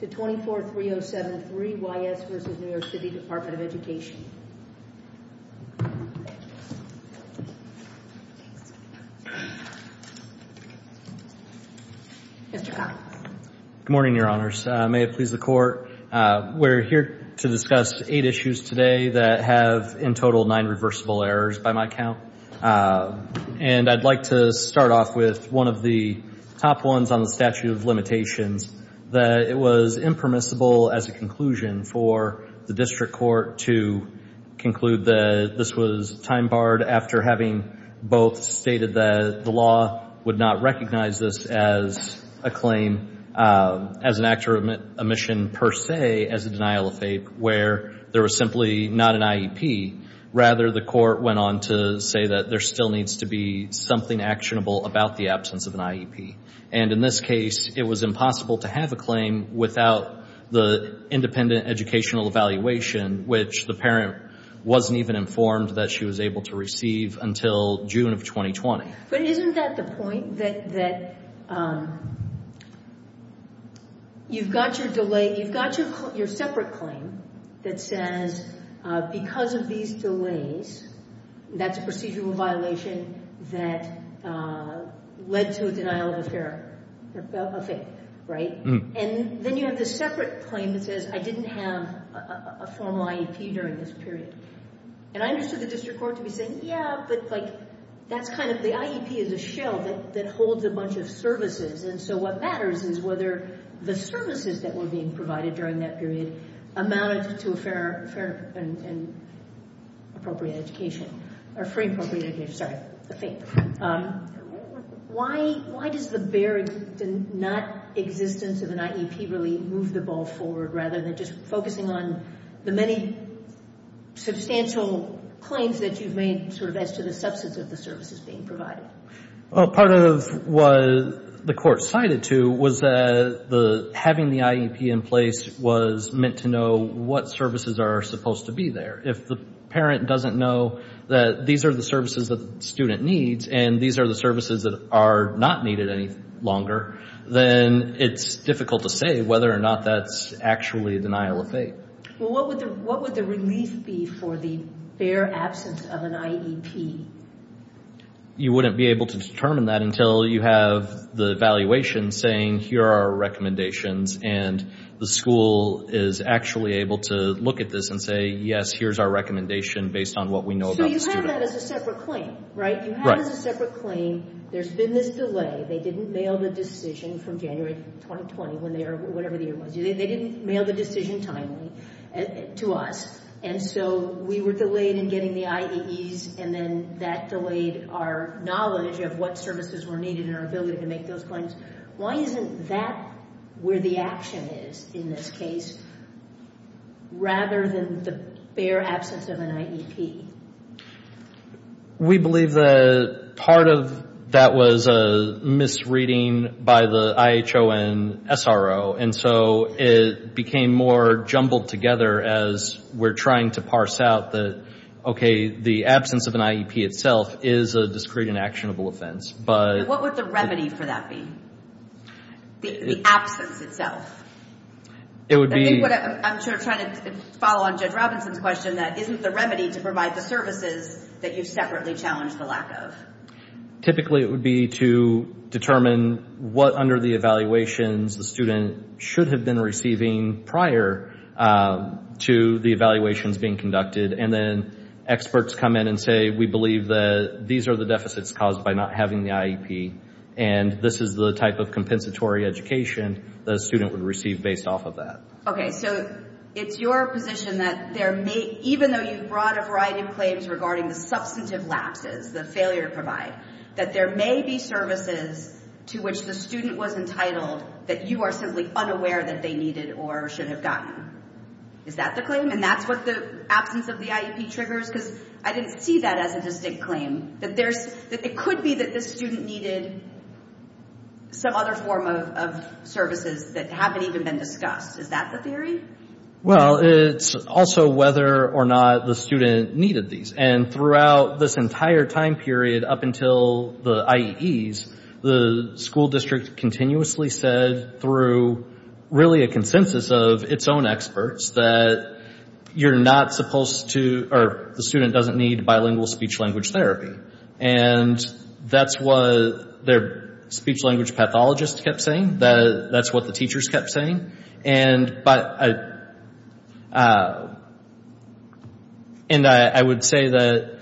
to 24.3073.Y.S. v. New York City Department of Education. Mr. Collins. Good morning, Your Honors. May it please the Court. We're here to discuss eight issues today that have in total nine reversible errors by my count. And I'd like to start off with one of the top ones on the statute of limitations that it was impermissible as a conclusion for the district court to conclude that this was time-barred after having both stated that the law would not recognize this as a claim, as an act of omission per se, as a denial of faith, where there was simply not an IEP. Rather, the court went on to say that there still needs to be something actionable about the absence of an IEP. And in this case, it was impossible to have a claim without the independent educational evaluation, which the parent wasn't even informed that she was able to receive until June of 2020. But isn't that the point, that you've got your separate claim that says because of these delays, that's a procedural violation that led to a denial of faith, right? And then you have the separate claim that says I didn't have a formal IEP during this period. And I understood the district court to be saying, yeah, but, like, that's kind of the IEP is a shell that holds a bunch of services. And so what matters is whether the services that were being provided during that period amounted to a fair and appropriate education, or free and appropriate education, sorry, a faith. Why does the very not existence of an IEP really move the ball forward, rather than just focusing on the many substantial claims that you've made sort of as to the substance of the services being provided? Well, part of what the court cited to was that having the IEP in place was meant to know what services are supposed to be there. If the parent doesn't know that these are the services that the student needs and these are the services that are not needed any longer, then it's difficult to say whether or not that's actually a denial of faith. Well, what would the relief be for the bare absence of an IEP? You wouldn't be able to determine that until you have the evaluation saying, here are our recommendations, and the school is actually able to look at this and say, yes, here's our recommendation based on what we know about the student. So you have that as a separate claim, right? You have it as a separate claim. There's been this delay. They didn't mail the decision from January 2020 when they were, whatever the year was. They didn't mail the decision timely to us. And so we were delayed in getting the IEEs, and then that delayed our knowledge of what services were needed and our ability to make those claims. Why isn't that where the action is in this case rather than the bare absence of an IEP? We believe that part of that was a misreading by the IHO and SRO, and so it became more jumbled together as we're trying to parse out that, okay, the absence of an IEP itself is a discrete and actionable offense. What would the remedy for that be? The absence itself. I'm sure trying to follow on Judge Robinson's question, that isn't the remedy to provide the services that you've separately challenged the lack of? Typically it would be to determine what, under the evaluations, the student should have been receiving prior to the evaluations being conducted, and then experts come in and say, we believe that these are the deficits caused by not having the IEP, and this is the type of compensatory education the student would receive based off of that. Okay, so it's your position that there may, even though you've brought a variety of claims regarding the substantive lapses, the failure to provide, that there may be services to which the student was entitled that you are simply unaware that they needed or should have gotten. Is that the claim? And that's what the absence of the IEP triggers? Because I didn't see that as a distinct claim, that it could be that the student needed some other form of services that haven't even been discussed. Is that the theory? Well, it's also whether or not the student needed these, and throughout this entire time period up until the IEEs, the school district continuously said through really a consensus of its own experts that you're not supposed to, or the student doesn't need bilingual speech-language therapy. And that's what their speech-language pathologist kept saying. That's what the teachers kept saying. And I would say that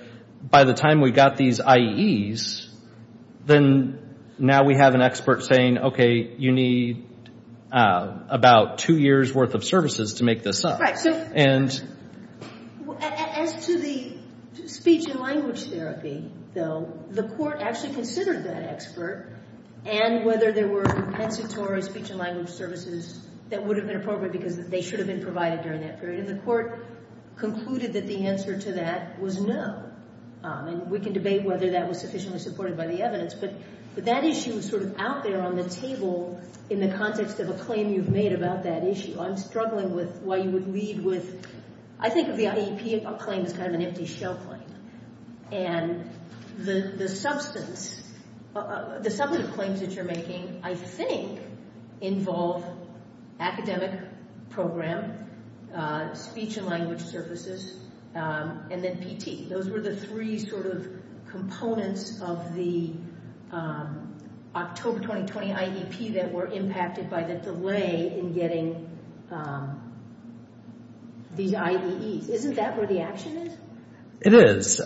by the time we got these IEEs, then now we have an expert saying, okay, you need about two years' worth of services to make this up. Right. As to the speech-language therapy, though, the court actually considered that expert, and whether there were compensatory speech-language services that would have been appropriate because they should have been provided during that period. And the court concluded that the answer to that was no. And we can debate whether that was sufficiently supported by the evidence, but that issue is sort of out there on the table in the context of a claim you've made about that issue. I'm struggling with why you would lead with, I think of the IEP claim as kind of an empty shell claim. And the substantive claims that you're making, I think, involve academic program, speech-language services, and then PT. Those were the three sort of components of the October 2020 IEP that were impacted by the delay in getting these IEEs. Isn't that where the action is? It is.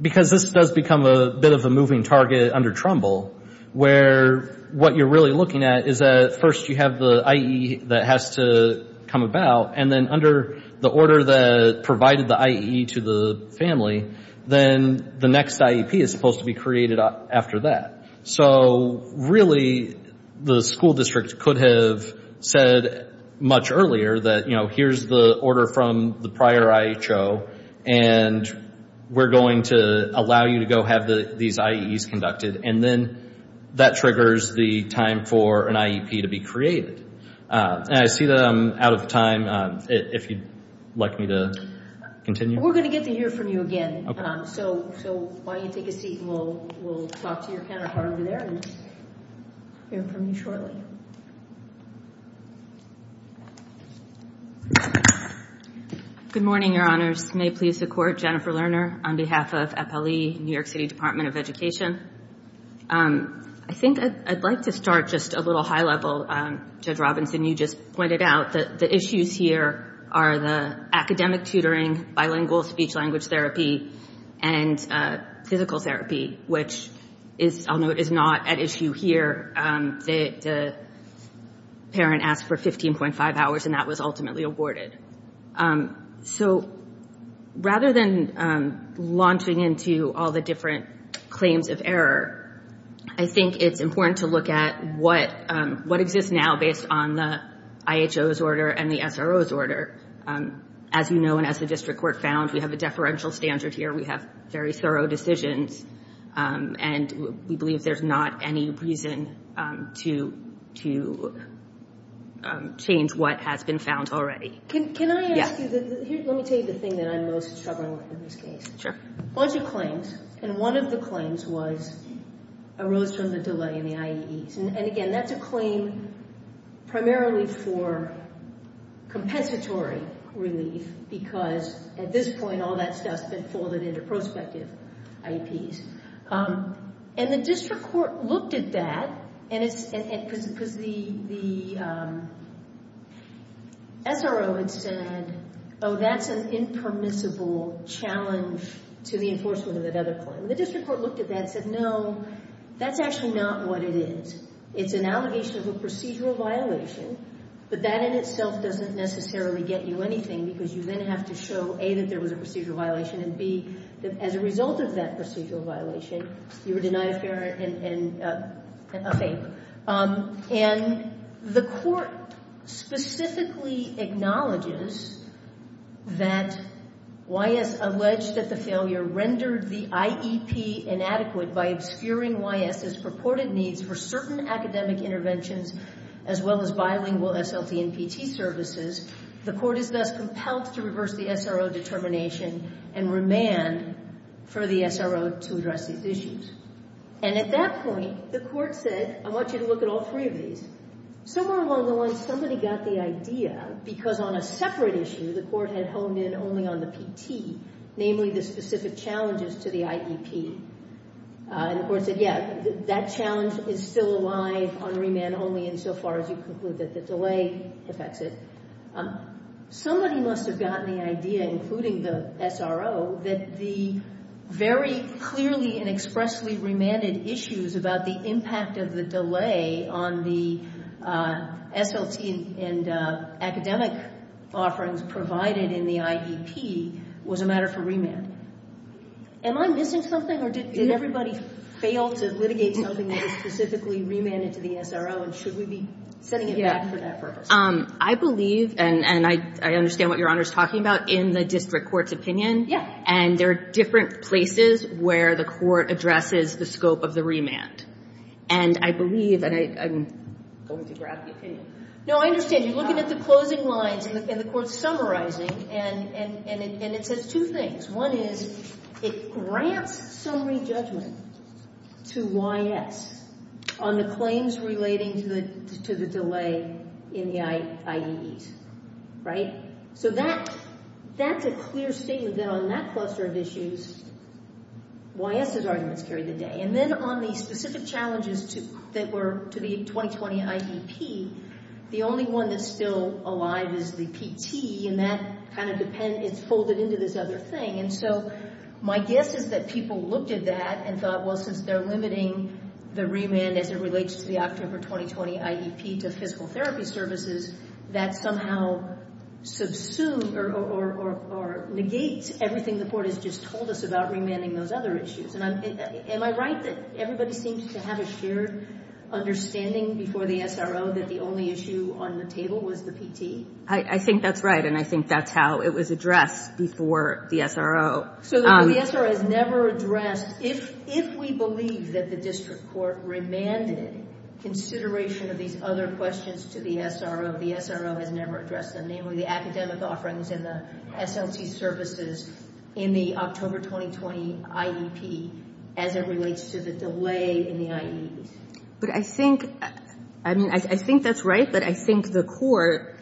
Because this does become a bit of a moving target under Trumbull, where what you're really looking at is that first you have the IE that has to come about, and then under the order that provided the IE to the family, then the next IEP is supposed to be created after that. So really the school district could have said much earlier that, you know, here's the order from the prior IHO, and we're going to allow you to go have these IEEs conducted, and then that triggers the time for an IEP to be created. And I see that I'm out of time. If you'd like me to continue. We're going to get the ear from you again. So why don't you take a seat, and we'll talk to your counterpart over there and hear from you shortly. Good morning, Your Honors. May it please the Court, Jennifer Lerner on behalf of FLE, New York City Department of Education. I think I'd like to start just a little high level. Judge Robinson, you just pointed out that the issues here are the academic tutoring, bilingual speech-language therapy, and physical therapy, which I'll note is not at issue here. The parent asked for 15.5 hours, and that was ultimately awarded. So rather than launching into all the different claims of error, I think it's important to look at what exists now based on the IHO's order and the SRO's order. As you know, and as the district court found, we have a deferential standard here. We have very thorough decisions, and we believe there's not any reason to change what has been found already. Can I ask you, let me tell you the thing that I'm most struggling with in this case. Sure. A bunch of claims, and one of the claims arose from the delay in the IEEs. And again, that's a claim primarily for compensatory relief, because at this point all that stuff's been folded into prospective IEPs. And the district court looked at that, because the SRO had said, oh, that's an impermissible challenge to the enforcement of that other claim. And the district court looked at that and said, no, that's actually not what it is. It's an allegation of a procedural violation, but that in itself doesn't necessarily get you anything, because you then have to show, A, that there was a procedural violation, and B, that as a result of that procedural violation, you were denied a fair and a favor. And the court specifically acknowledges that YS alleged that the failure rendered the IEP inadequate by obscuring YS's purported needs for certain academic interventions as well as bilingual SLT and PT services. The court is thus compelled to reverse the SRO determination and remand for the SRO to address these issues. And at that point, the court said, I want you to look at all three of these. Somewhere along the line, somebody got the idea, because on a separate issue, the court had honed in only on the PT, namely the specific challenges to the IEP. And the court said, yeah, that challenge is still alive on remand only insofar as you conclude that the delay affects it. Somebody must have gotten the idea, including the SRO, that the very clearly and expressly remanded issues about the impact of the delay on the SLT and academic offerings provided in the IEP was a matter for remand. Am I missing something, or did everybody fail to litigate something that was specifically remanded to the SRO, and should we be setting it back for that purpose? I believe, and I understand what Your Honor is talking about, in the district court's opinion, and there are different places where the court addresses the scope of the remand. And I believe, and I'm going to grab the opinion. No, I understand. You're looking at the closing lines, and the court's summarizing, and it says two things. One is it grants summary judgment to YS on the claims relating to the delay in the IEDs, right? So that's a clear statement that on that cluster of issues, YS's arguments carry the day. And then on the specific challenges that were to the 2020 IEP, the only one that's still alive is the PT, and that kind of depends, it's folded into this other thing. And so my guess is that people looked at that and thought, well, since they're limiting the remand as it relates to the October 2020 IEP to physical therapy services, that somehow subsumes or negates everything the court has just told us about remanding those other issues. Am I right that everybody seems to have a shared understanding before the SRO that the only issue on the table was the PT? I think that's right, and I think that's how it was addressed before the SRO. So the SRO has never addressed, if we believe that the district court remanded consideration of these other questions to the SRO, the SRO has never addressed them, namely the academic offerings and the SLC services in the October 2020 IEP as it relates to the delay in the IEDs. But I think, I mean, I think that's right, but I think the court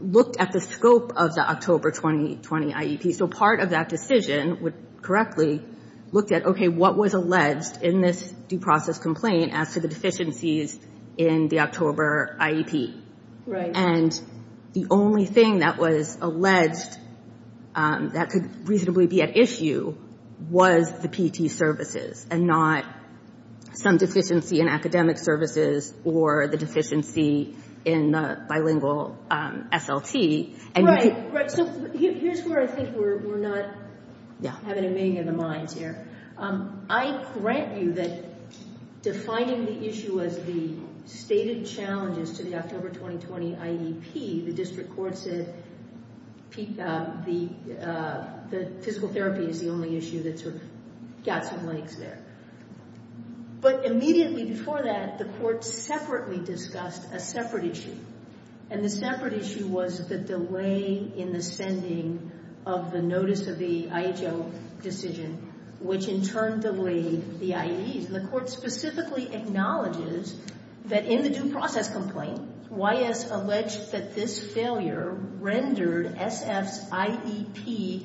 looked at the scope of the October 2020 IEP. So part of that decision would correctly look at, okay, what was alleged in this due process complaint as to the deficiencies in the October IEP? And the only thing that was alleged that could reasonably be at issue was the PT services and not some deficiency in academic services or the deficiency in the bilingual SLT. Right, right. So here's where I think we're not having a meeting of the minds here. I grant you that defining the issue as the stated challenges to the October 2020 IEP, the district court said the physical therapy is the only issue that sort of got some legs there. But immediately before that, the court separately discussed a separate issue. And the separate issue was the delay in the sending of the notice of the IHO decision, which in turn delayed the IEDs. And the court specifically acknowledges that in the due process complaint, YS alleged that this failure rendered SF's IEP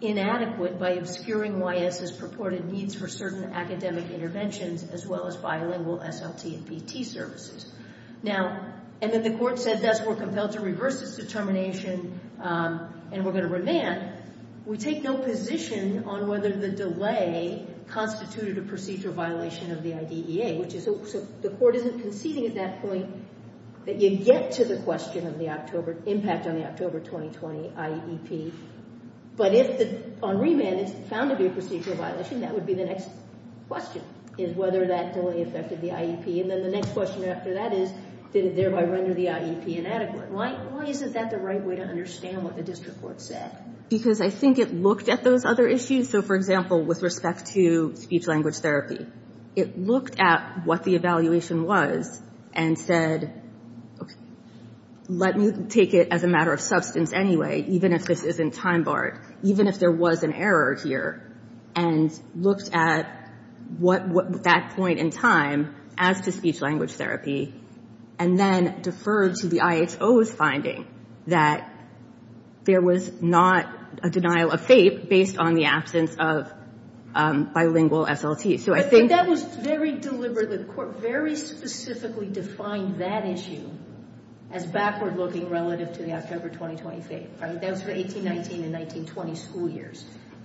inadequate by obscuring YS's purported needs for certain academic interventions as well as bilingual SLT and PT services. And then the court said thus, we're compelled to reverse this determination and we're going to remand. We take no position on whether the delay constituted a procedural violation of the IDEA. So the court isn't conceding at that point that you get to the question of the impact on the October 2020 IEP. But if on remand it's found to be a procedural violation, that would be the next question is whether that delay affected the IEP. And then the next question after that is, did it thereby render the IEP inadequate? Why isn't that the right way to understand what the district court said? Because I think it looked at those other issues. So, for example, with respect to speech-language therapy, it looked at what the evaluation was and said, let me take it as a matter of substance anyway, even if this isn't time-barred. Even if there was an error here. And looked at that point in time as to speech-language therapy. And then deferred to the IHO's finding that there was not a denial of fate based on the absence of bilingual SLT. But that was very deliberate. The court very specifically defined that issue as backward-looking relative to the October 2020 fate. That was for 18-19 and 19-20 school years.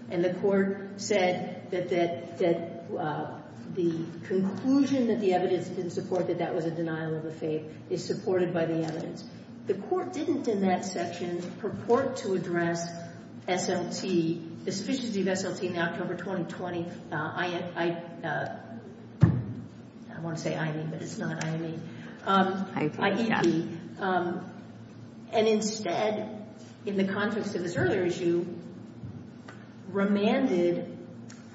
And the court said that the conclusion that the evidence didn't support that that was a denial of a fate is supported by the evidence. The court didn't in that section purport to address SLT, the sufficiency of SLT in the October 2020. I want to say IEP, but it's not IEP. IEP, yes. And instead, in the context of this earlier issue, remanded.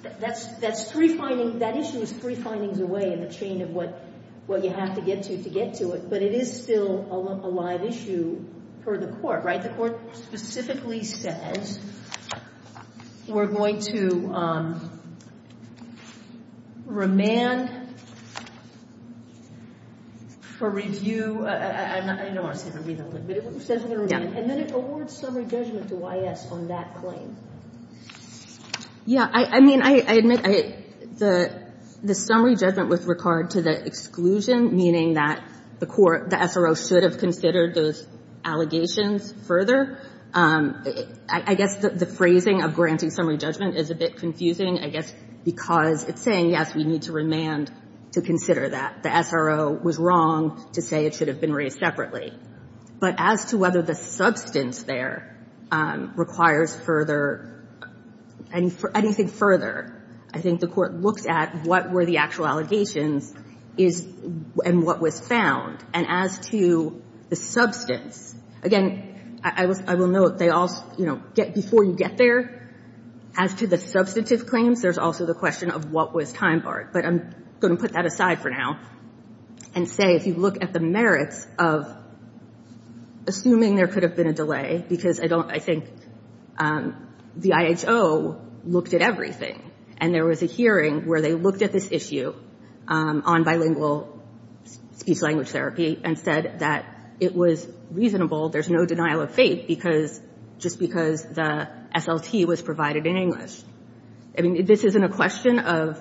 That issue is three findings away in the chain of what you have to get to to get to it. But it is still a live issue for the court, right? But the court specifically says we're going to remand for review. I know I said review, but it says we're going to remand. And then it awards summary judgment to YS on that claim. Yeah, I mean, I admit the summary judgment with regard to the exclusion, meaning that the court, the SRO, should have considered those allegations further. I guess the phrasing of granting summary judgment is a bit confusing, I guess, because it's saying, yes, we need to remand to consider that. The SRO was wrong to say it should have been raised separately. But as to whether the substance there requires further, anything further, I think the court looks at what were the actual allegations is and what was found. And as to the substance, again, I will note they all, you know, get before you get there. As to the substantive claims, there's also the question of what was time barred. But I'm going to put that aside for now and say if you look at the merits of assuming there could have been a delay, because I think the IHO looked at everything and there was a hearing where they looked at this issue on bilingual speech language therapy and said that it was reasonable, there's no denial of fate, just because the SLT was provided in English. I mean, this isn't a question of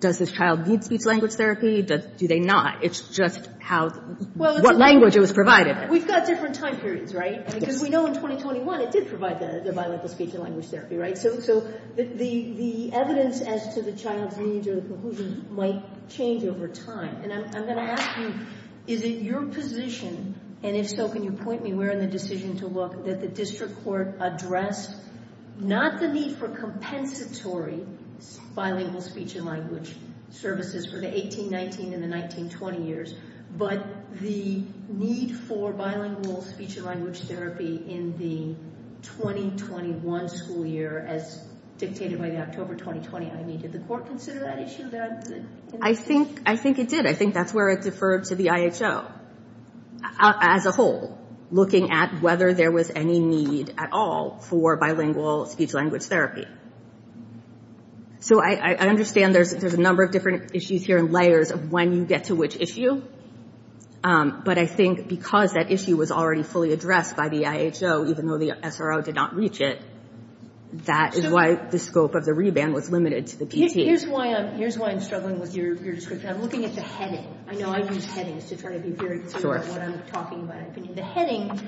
does this child need speech language therapy, do they not? It's just how, what language it was provided. We've got different time periods, right? Because we know in 2021 it did provide the bilingual speech and language therapy, right? So the evidence as to the child's needs or the conclusions might change over time. And I'm going to ask you, is it your position, and if so, can you point me where in the decision to look, that the district court addressed not the need for compensatory bilingual speech and language services for the 18, 19, and the 19, 20 years, but the need for bilingual speech and language therapy in the 2021 school year as dictated by the October 2020? I mean, did the court consider that issue? I think it did. I think that's where it deferred to the IHO as a whole, looking at whether there was any need at all for bilingual speech language therapy. So I understand there's a number of different issues here and layers of when you get to which issue, but I think because that issue was already fully addressed by the IHO, even though the SRO did not reach it, that is why the scope of the reband was limited to the PT. Here's why I'm struggling with your description. I'm looking at the heading. I know I use headings to try to be very clear about what I'm talking about. The heading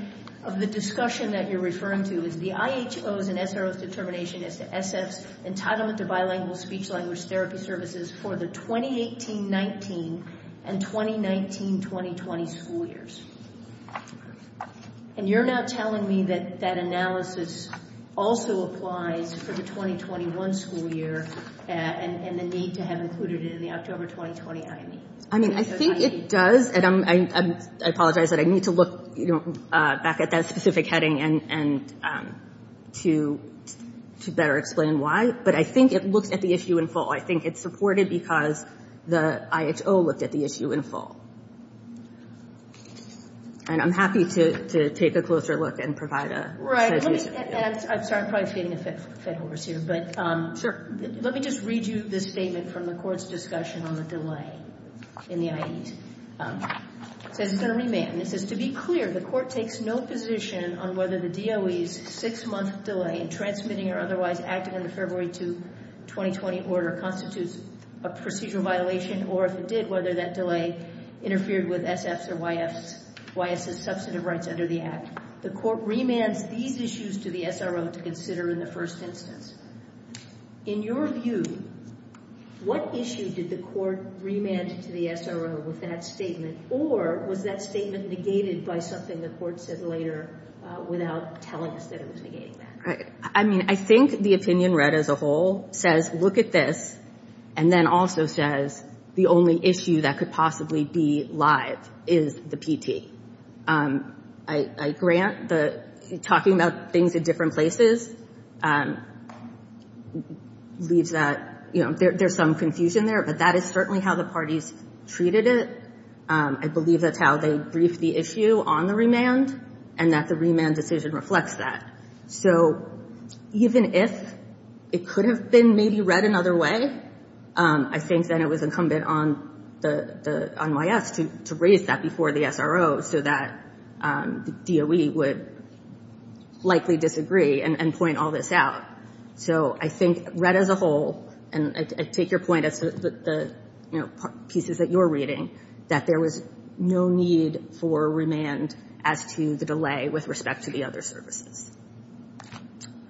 of the discussion that you're referring to is the IHO's and SRO's determination as to SF's entitlement to bilingual speech language therapy services for the 2018, 19, and 2019, 2020 school years. And you're now telling me that that analysis also applies for the 2021 school year and the need to have included it in the October 2020 IME. I mean, I think it does, and I apologize that I need to look back at that specific heading to better explain why, but I think it looks at the issue in full. I think it's supported because the IHO looked at the issue in full, and I'm happy to take a closer look and provide a- I'm sorry. I'm probably feeding a fed horse here, but- Sure. Let me just read you this statement from the court's discussion on the delay in the IE. It says it's going to remand. It says, to be clear, the court takes no position on whether the DOE's six-month delay in transmitting or otherwise acting on the February 2, 2020 order constitutes a procedural violation, or if it did, whether that delay interfered with SF's or YS's substantive rights under the act. The court remands these issues to the SRO to consider in the first instance. In your view, what issue did the court remand to the SRO with that statement, or was that statement negated by something the court said later without telling us that it was negating that? I mean, I think the opinion read as a whole says, look at this, and then also says the only issue that could possibly be lied is the PT. I grant that talking about things in different places leaves that- there's some confusion there, but that is certainly how the parties treated it. I believe that's how they briefed the issue on the remand and that the remand decision reflects that. So even if it could have been maybe read another way, I think then it was incumbent on YS to raise that before the SRO so that the DOE would likely disagree and point all this out. So I think read as a whole, and I take your point as the pieces that you're reading, that there was no need for remand as to the delay with respect to the other services.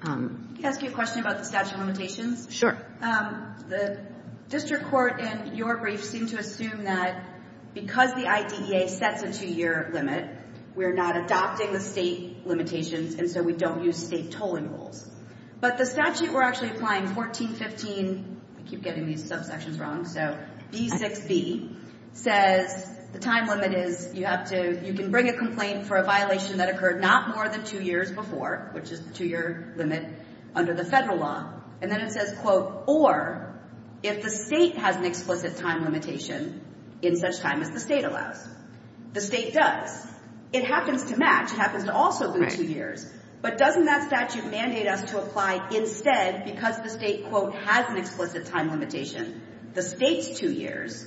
Can I ask you a question about the statute of limitations? Sure. The district court in your brief seemed to assume that because the IDEA sets a two-year limit, we're not adopting the state limitations, and so we don't use state tolling rules. But the statute we're actually applying, 1415-I keep getting these subsections wrong, so-B6b, says the time limit is you have to-you can bring a complaint for a violation that occurred not more than two years before, which is the two-year limit under the federal law. And then it says, quote, or if the state has an explicit time limitation in such time as the state allows. The state does. It happens to match. It happens to also be two years. But doesn't that statute mandate us to apply instead because the state, quote, has an explicit time limitation, the state's two years,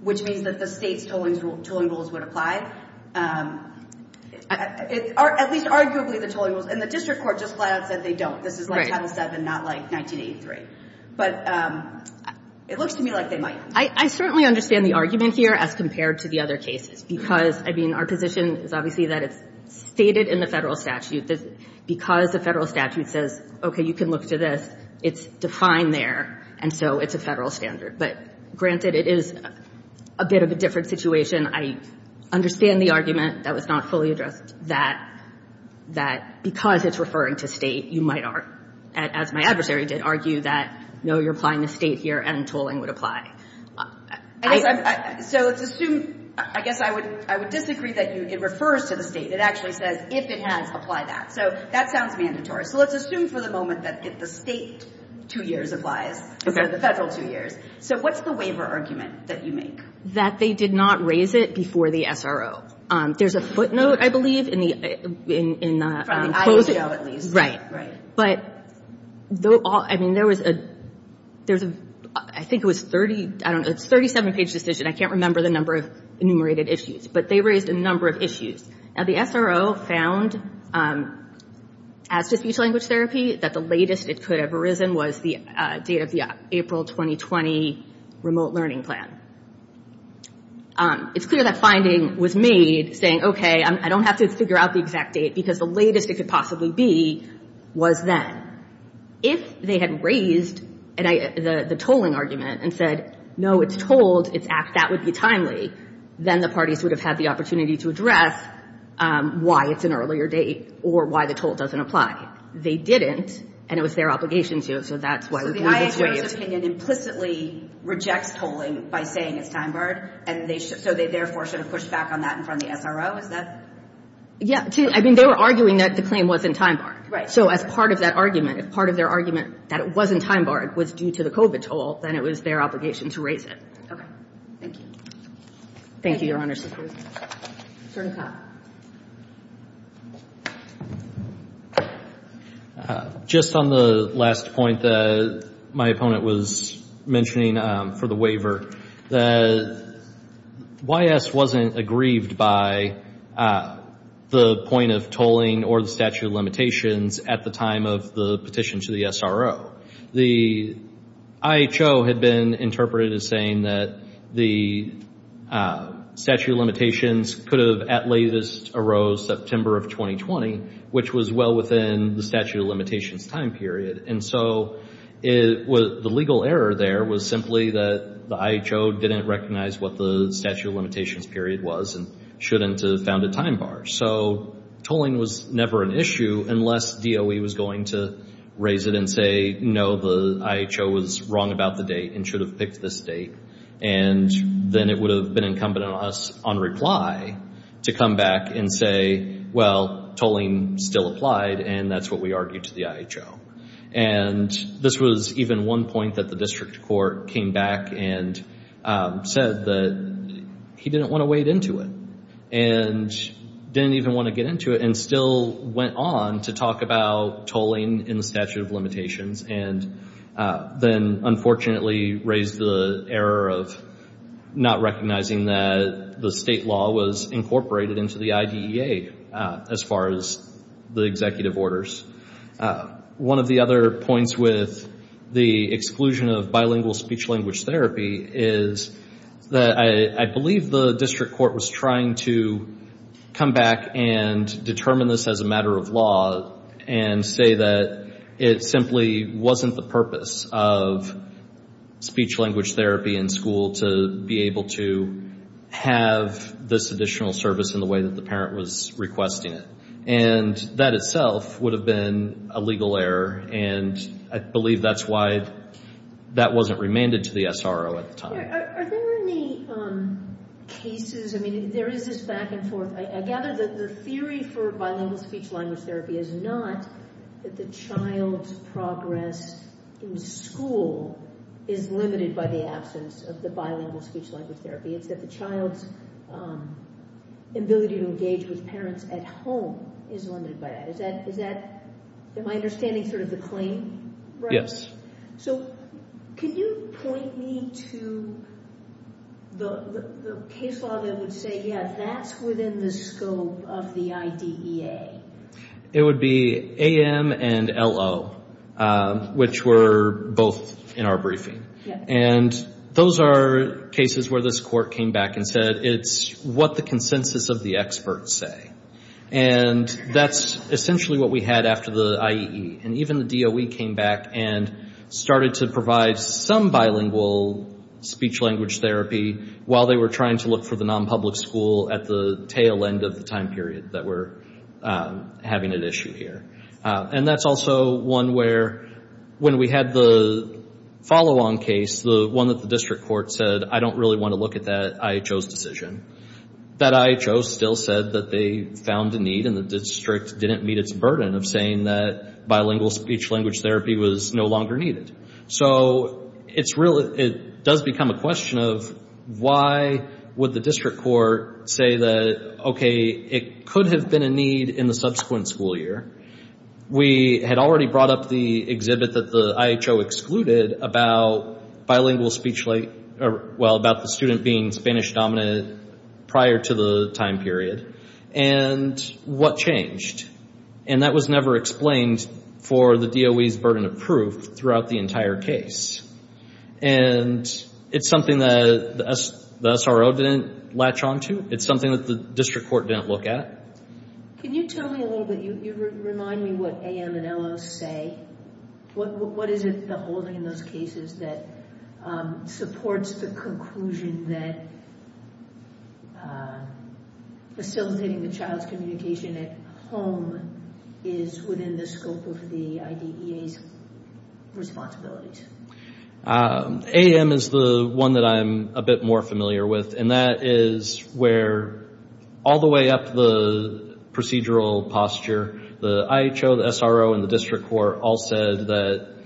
which means that the state's tolling rules would apply? At least arguably the tolling rules. And the district court just flat-out said they don't. This is like Title VII, not like 1983. But it looks to me like they might. I certainly understand the argument here as compared to the other cases because, I mean, our position is obviously that it's stated in the federal statute. Because the federal statute says, okay, you can look to this, it's defined there, and so it's a federal standard. But granted, it is a bit of a different situation. I understand the argument that was not fully addressed, that because it's referring to state, you might argue, as my adversary did, argue that, no, you're applying to state here and tolling would apply. So let's assume, I guess I would disagree that it refers to the state. It actually says, if it has, apply that. So that sounds mandatory. So let's assume for the moment that the state two years applies instead of the federal two years. So what's the waiver argument that you make? That they did not raise it before the SRO. There's a footnote, I believe, in the closing. From the ISO, at least. Right. Right. But, I mean, there was a, I think it was a 37-page decision. I can't remember the number of enumerated issues. But they raised a number of issues. Now, the SRO found, as to speech-language therapy, that the latest it could have arisen was the date of the April 2020 remote learning plan. It's clear that finding was made, saying, okay, I don't have to figure out the exact date, because the latest it could possibly be was then. If they had raised the tolling argument and said, no, it's told, it's asked, that would be timely, then the parties would have had the opportunity to address why it's an earlier date or why the toll doesn't apply. They didn't, and it was their obligation to it. So the ISO's opinion implicitly rejects tolling by saying it's time-barred, and so they therefore should have pushed back on that in front of the SRO? Is that? Yeah. I mean, they were arguing that the claim wasn't time-barred. Right. So as part of that argument, if part of their argument that it wasn't time-barred was due to the COVID toll, then it was their obligation to raise it. Okay. Thank you. Thank you, Your Honor. Attorney Cobb. Just on the last point that my opponent was mentioning for the waiver, the YS wasn't aggrieved by the point of tolling or the statute of limitations at the time of the petition to the SRO. The IHO had been interpreted as saying that the statute of limitations could have at latest arose September of 2020, which was well within the statute of limitations time period. And so the legal error there was simply that the IHO didn't recognize what the statute of limitations period was and shouldn't have found it time-barred. So tolling was never an issue unless DOE was going to raise it and say, no, the IHO was wrong about the date and should have picked this date. And then it would have been incumbent on us on reply to come back and say, well, tolling still applied, and that's what we argued to the IHO. And this was even one point that the district court came back and said that he didn't want to wade into it and didn't even want to get into it and still went on to talk about tolling in the statute of limitations and then unfortunately raised the error of not recognizing that the state law was incorporated into the IDEA as far as the executive orders. One of the other points with the exclusion of bilingual speech-language therapy is that I believe the district court was trying to come back and determine this as a matter of law and say that it simply wasn't the purpose of speech-language therapy in school to be able to have this additional service in the way that the parent was requesting it. And that itself would have been a legal error, and I believe that's why that wasn't remanded to the SRO at the time. Are there any cases, I mean, there is this back and forth. I gather that the theory for bilingual speech-language therapy is not that the child's progress in school is limited by the absence of the bilingual speech-language therapy. It's that the child's ability to engage with parents at home is limited by that. Is that, in my understanding, sort of the claim? Yes. So can you point me to the case law that would say, yeah, that's within the scope of the IDEA? It would be AM and LO, which were both in our briefing. And those are cases where this court came back and said it's what the consensus of the experts say. And that's essentially what we had after the IEE. And even the DOE came back and started to provide some bilingual speech-language therapy while they were trying to look for the non-public school at the tail end of the time period that we're having at issue here. And that's also one where, when we had the follow-on case, the one that the district court said, I don't really want to look at that IHO's decision, that IHO still said that they found a need, and the district didn't meet its burden of saying that bilingual speech-language therapy was no longer needed. So it does become a question of why would the district court say that, okay, it could have been a need in the subsequent school year. We had already brought up the exhibit that the IHO excluded about bilingual speech-language, well, about the student being Spanish-dominated prior to the time period. And what changed? And that was never explained for the DOE's burden of proof throughout the entire case. And it's something that the SRO didn't latch on to. It's something that the district court didn't look at. Can you tell me a little bit, you remind me what AM and LO say. What is it, the holding in those cases, that supports the conclusion that facilitating the child's communication at home is within the scope of the IDEA's responsibilities? AM is the one that I'm a bit more familiar with, and that is where all the way up to the procedural posture, the IHO, the SRO, and the district court all said that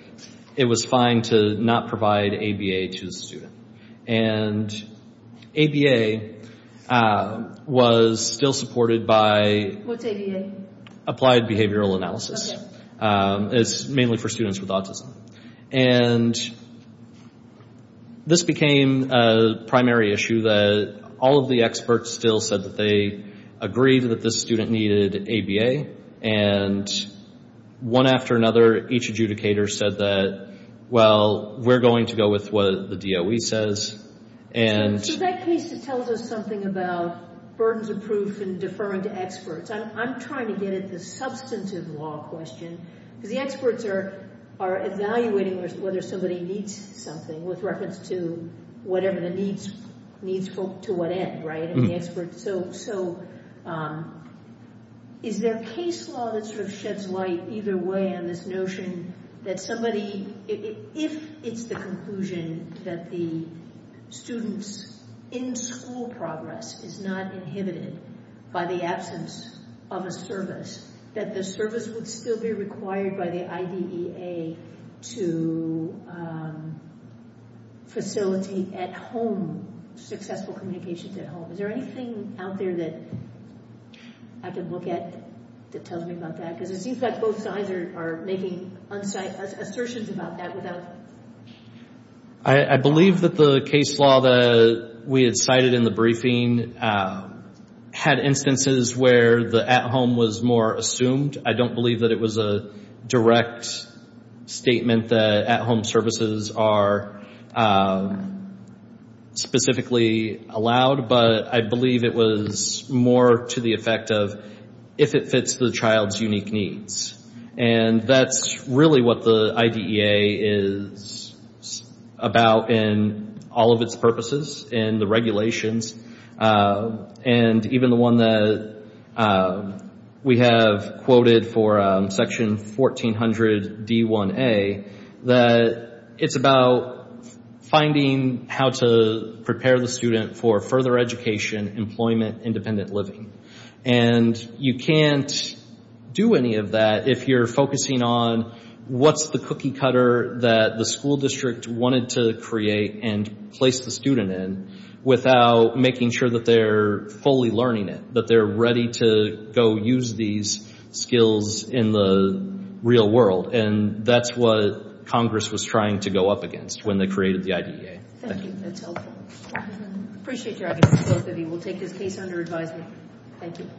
it was fine to not provide ABA to the student. And ABA was still supported by applied behavioral analysis. It's mainly for students with autism. And this became a primary issue that all of the experts still said that they agreed that this student needed ABA. And one after another, each adjudicator said that, well, we're going to go with what the DOE says. So in that case, it tells us something about burdens of proof and deferring to experts. I'm trying to get at the substantive law question, because the experts are evaluating whether somebody needs something with reference to whatever the needs to what end, right? So is there case law that sort of sheds light either way on this notion that somebody, if it's the conclusion that the student's in-school progress is not inhibited by the absence of a service, that the service would still be required by the IDEA to facilitate at home successful communications at home? Is there anything out there that I could look at that tells me about that? Because it seems like both sides are making assertions about that. I believe that the case law that we had cited in the briefing had instances where the at-home was more assumed. I don't believe that it was a direct statement that at-home services are specifically allowed, but I believe it was more to the effect of if it fits the child's unique needs. And that's really what the IDEA is about in all of its purposes, in the regulations, and even the one that we have quoted for Section 1400D1A, that it's about finding how to prepare the student for further education, employment, independent living. And you can't do any of that if you're focusing on what's the cookie cutter that the school district wanted to create and place the student in without making sure that they're fully learning it, that they're ready to go use these skills in the real world. And that's what Congress was trying to go up against when they created the IDEA. Thank you. That's helpful. I appreciate your evidence, both of you. We'll take this case under advisement. Thank you.